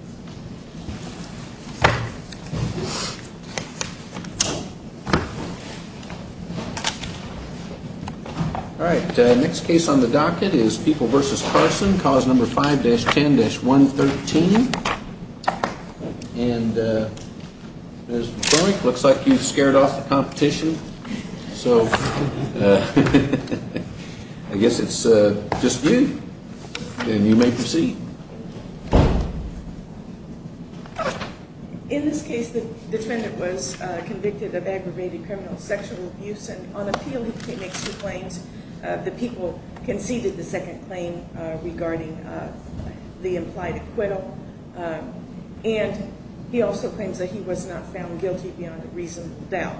All right, next case on the docket is People v. Carson, cause number 5-10-113, and it looks like you've scared off the competition, so I guess it's just you, and you may proceed. In this case, the defendant was convicted of aggravated criminal sexual abuse, and on appeal he makes two claims. The People conceded the second claim regarding the implied acquittal, and he also claims that he was not found guilty beyond a reasonable doubt.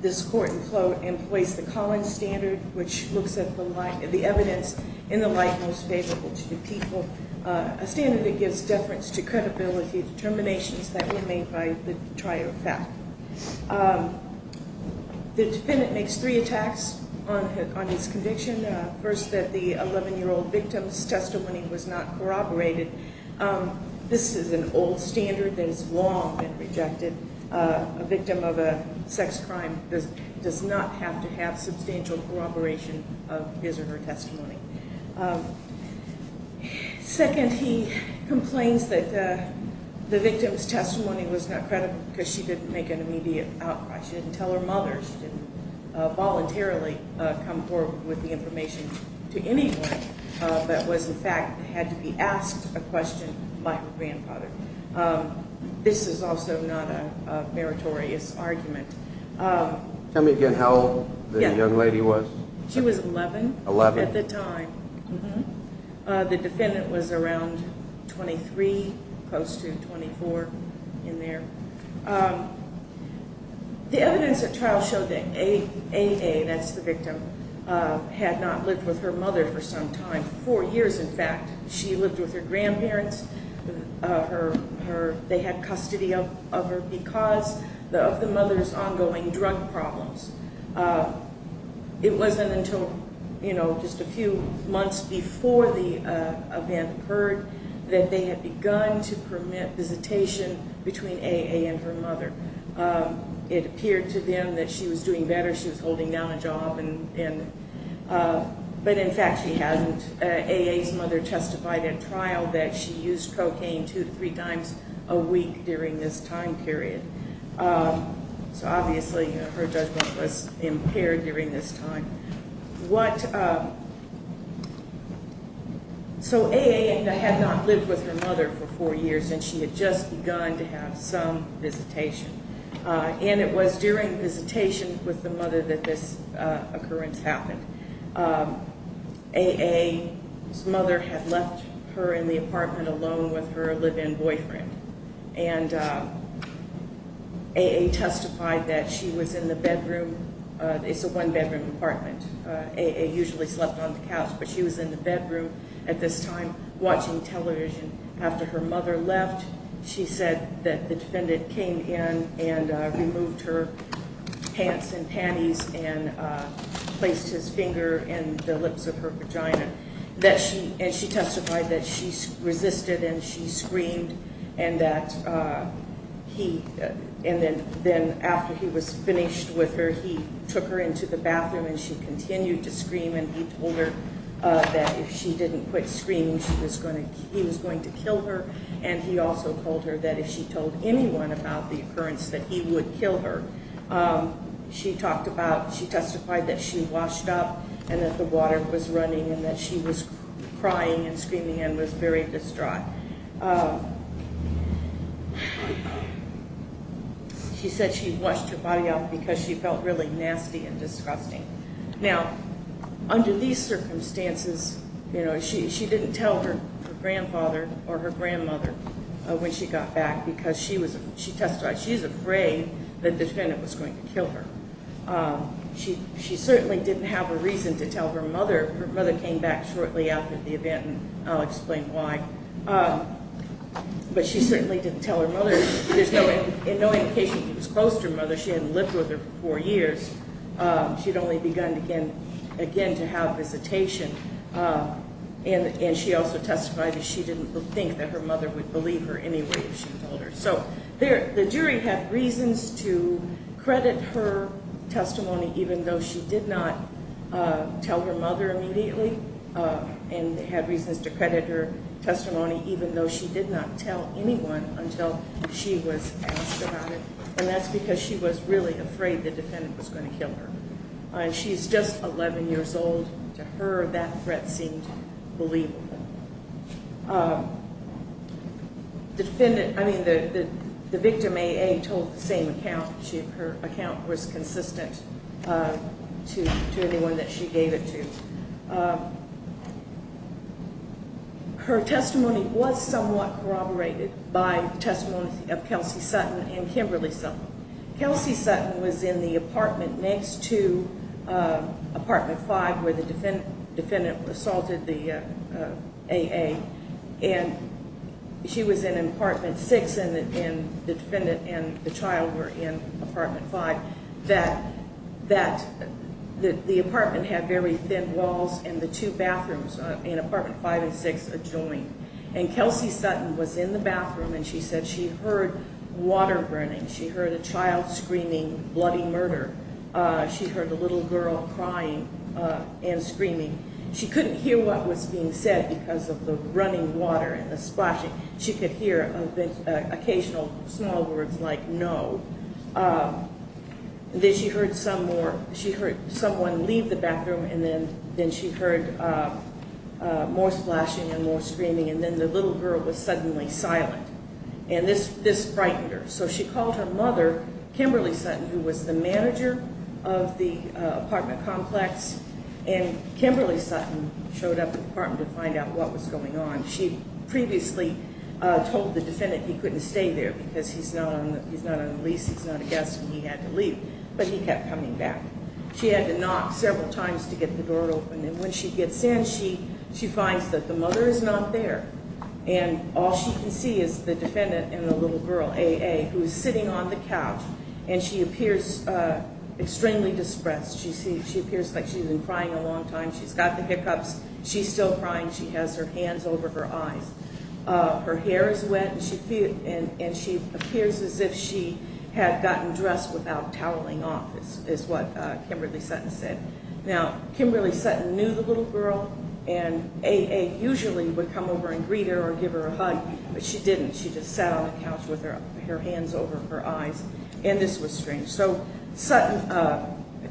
This court employs the Collins Standard, which looks at the evidence in the light most favorable to the people, a standard that gives deference to credibility determinations that were made by the trier of fact. The defendant makes three attacks on his conviction. First, that the 11-year-old victim's testimony was not corroborated. This is an old standard that has long been rejected. A victim of a sex crime does not have to have substantial corroboration of his or her testimony. Second, he complains that the victim's testimony was not credible because she didn't make an immediate outcry. She didn't tell her mother, she didn't voluntarily come forward with the information to anyone, but was in fact had to be asked a question by her grandfather. This is also not a meritorious argument. Tell me again how old the young lady was. She was 11 at the time. The defendant was around 23, close to 24 in there. The evidence at trial showed that AA, that's the victim, had not lived with her mother for some time, four years in fact. She lived with her grandparents. They had custody of her because of the mother's ongoing drug problems. It wasn't until just a few months before the event occurred that they had begun to permit visitation between AA and her mother. It appeared to them that she was doing better, she was holding down a job, but in fact she hasn't. AA's mother testified at trial that she used cocaine two to three times a week during this time period. So obviously her judgment was impaired during this time. So AA had not lived with her mother for four years and she had just begun to have some visitation. And it was during visitation with the mother that this occurrence happened. AA's mother had left her in the apartment alone with her live-in boyfriend. And AA testified that she was in the bedroom. It's a one-bedroom apartment. AA usually slept on the couch, but she was in the bedroom at this time watching television. After her mother left, she said that the defendant came in and removed her pants and panties and placed his finger in the lips of her vagina. And she testified that she resisted and she screamed. And then after he was finished with her, he took her into the bathroom and she continued to scream. And he told her that if she didn't quit screaming, he was going to kill her. And he also told her that if she told anyone about the occurrence that he would kill her. She testified that she washed up and that the water was running and that she was crying and screaming and was very distraught. She said she washed her body off because she felt really nasty and disgusting. Now, under these circumstances, you know, she didn't tell her grandfather or her grandmother when she got back because she testified that she was afraid that the defendant was going to kill her. She certainly didn't have a reason to tell her mother. Her mother came back shortly after the event and I'll explain why. But she certainly didn't tell her mother. There's no indication that she was close to her mother. She hadn't lived with her for four years. She'd only begun again to have visitation. And she also testified that she didn't think that her mother would believe her anyway if she told her. So the jury had reasons to credit her testimony even though she did not tell her mother immediately. And they had reasons to credit her testimony even though she did not tell anyone until she was asked about it. And that's because she was really afraid the defendant was going to kill her. And she's just 11 years old. To her, that threat seemed believable. The victim, A. A., told the same account. Her account was consistent to anyone that she gave it to. Her testimony was somewhat corroborated by testimony of Kelsey Sutton and Kimberly Sutton. Kelsey Sutton was in the apartment next to Apartment 5 where the defendant assaulted the A. A. And she was in Apartment 6 and the defendant and the child were in Apartment 5. The apartment had very thin walls and the two bathrooms in Apartment 5 and 6 adjoined. And Kelsey Sutton was in the bathroom and she said she heard water burning. She heard a child screaming bloody murder. She heard a little girl crying and screaming. She couldn't hear what was being said because of the running water and the splashing. She could hear occasional small words like no. Then she heard someone leave the bathroom and then she heard more splashing and more screaming and then the little girl was suddenly silent. And this frightened her. So she called her mother, Kimberly Sutton, who was the manager of the apartment complex and Kimberly Sutton showed up at the apartment to find out what was going on. She previously told the defendant he couldn't stay there because he's not on the lease, he's not a guest and he had to leave. But he kept coming back. She had to knock several times to get the door open and when she gets in she finds that the mother is not there. And all she can see is the defendant and the little girl, A. A., who's sitting on the couch and she appears extremely distressed. She appears like she's been crying a long time. She's got the hiccups. She's still crying. She has her hands over her eyes. Her hair is wet and she appears as if she had gotten dressed without toweling off is what Kimberly Sutton said. Now Kimberly Sutton knew the little girl and A. A. usually would come over and greet her or give her a hug but she didn't. She just sat on the couch with her hands over her eyes and this was strange. So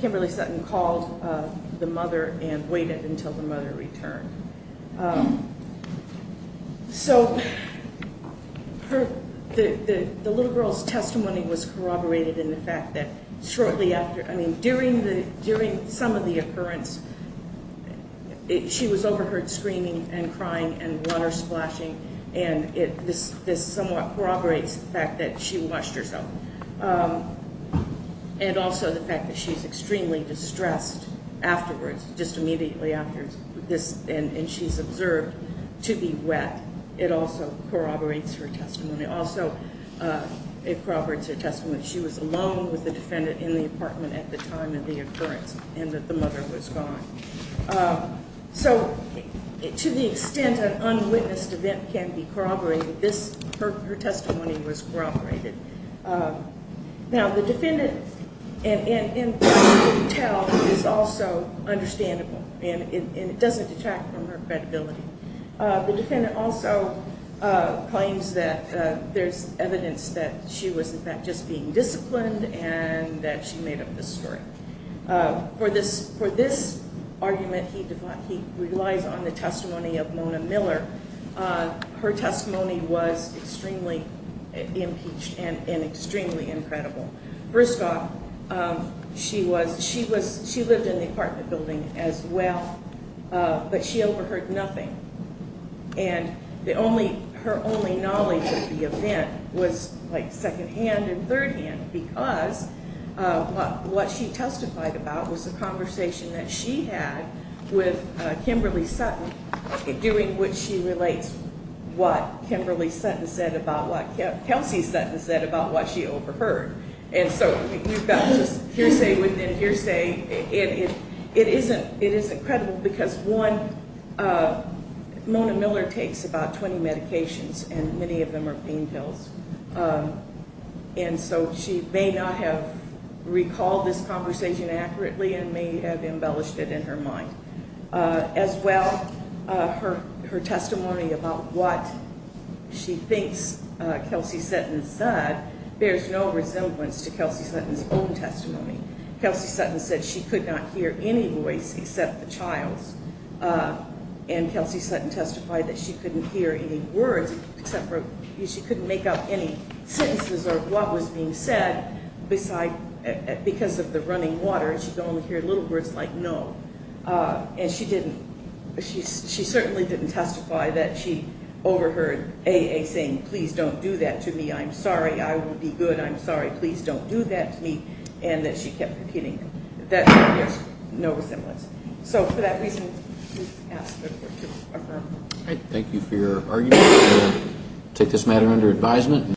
Kimberly Sutton called the mother and waited until the mother returned. So the little girl's testimony was corroborated in the fact that shortly after, I mean during some of the occurrence, she was overheard screaming and crying and water splashing and this somewhat corroborates the fact that she washed herself. And also the fact that she's extremely distressed afterwards, just immediately after this and she's observed to be wet. It also corroborates her testimony. Also it corroborates her testimony. She was alone with the defendant in the apartment at the time of the occurrence and that the mother was gone. So to the extent an unwitnessed event can be corroborated, her testimony was corroborated. Now the defendant in what she can tell is also understandable and it doesn't detract from her credibility. The defendant also claims that there's evidence that she was in fact just being disciplined and that she made up this story. For this argument he relies on the testimony of Mona Miller. Her testimony was extremely impeached and extremely incredible. Briscoff, she lived in the apartment building as well but she overheard nothing. And her only knowledge of the event was like second hand and third hand because what she testified about was the conversation that she had with Kimberly Sutton doing what she relates what Kimberly Sutton said about what Kelsey Sutton said about what she overheard. And so you've got hearsay within hearsay and it isn't credible because one, Mona Miller takes about 20 medications and many of them are pain pills. And so she may not have recalled this conversation accurately and may have embellished it in her mind. As well, her testimony about what she thinks Kelsey Sutton said bears no resemblance to Kelsey Sutton's own testimony. Kelsey Sutton said she could not hear any voice except the child's. And Kelsey Sutton testified that she couldn't hear any words except for she couldn't make up any sentences or what was being said because of the running water. She could only hear little words like no. And she certainly didn't testify that she overheard AA saying please don't do that to me. I'm sorry, I will be good. I'm sorry, please don't do that to me. And that she kept repeating. That bears no resemblance. So for that reason, yes. Thank you for your argument. We'll take this matter under advisement.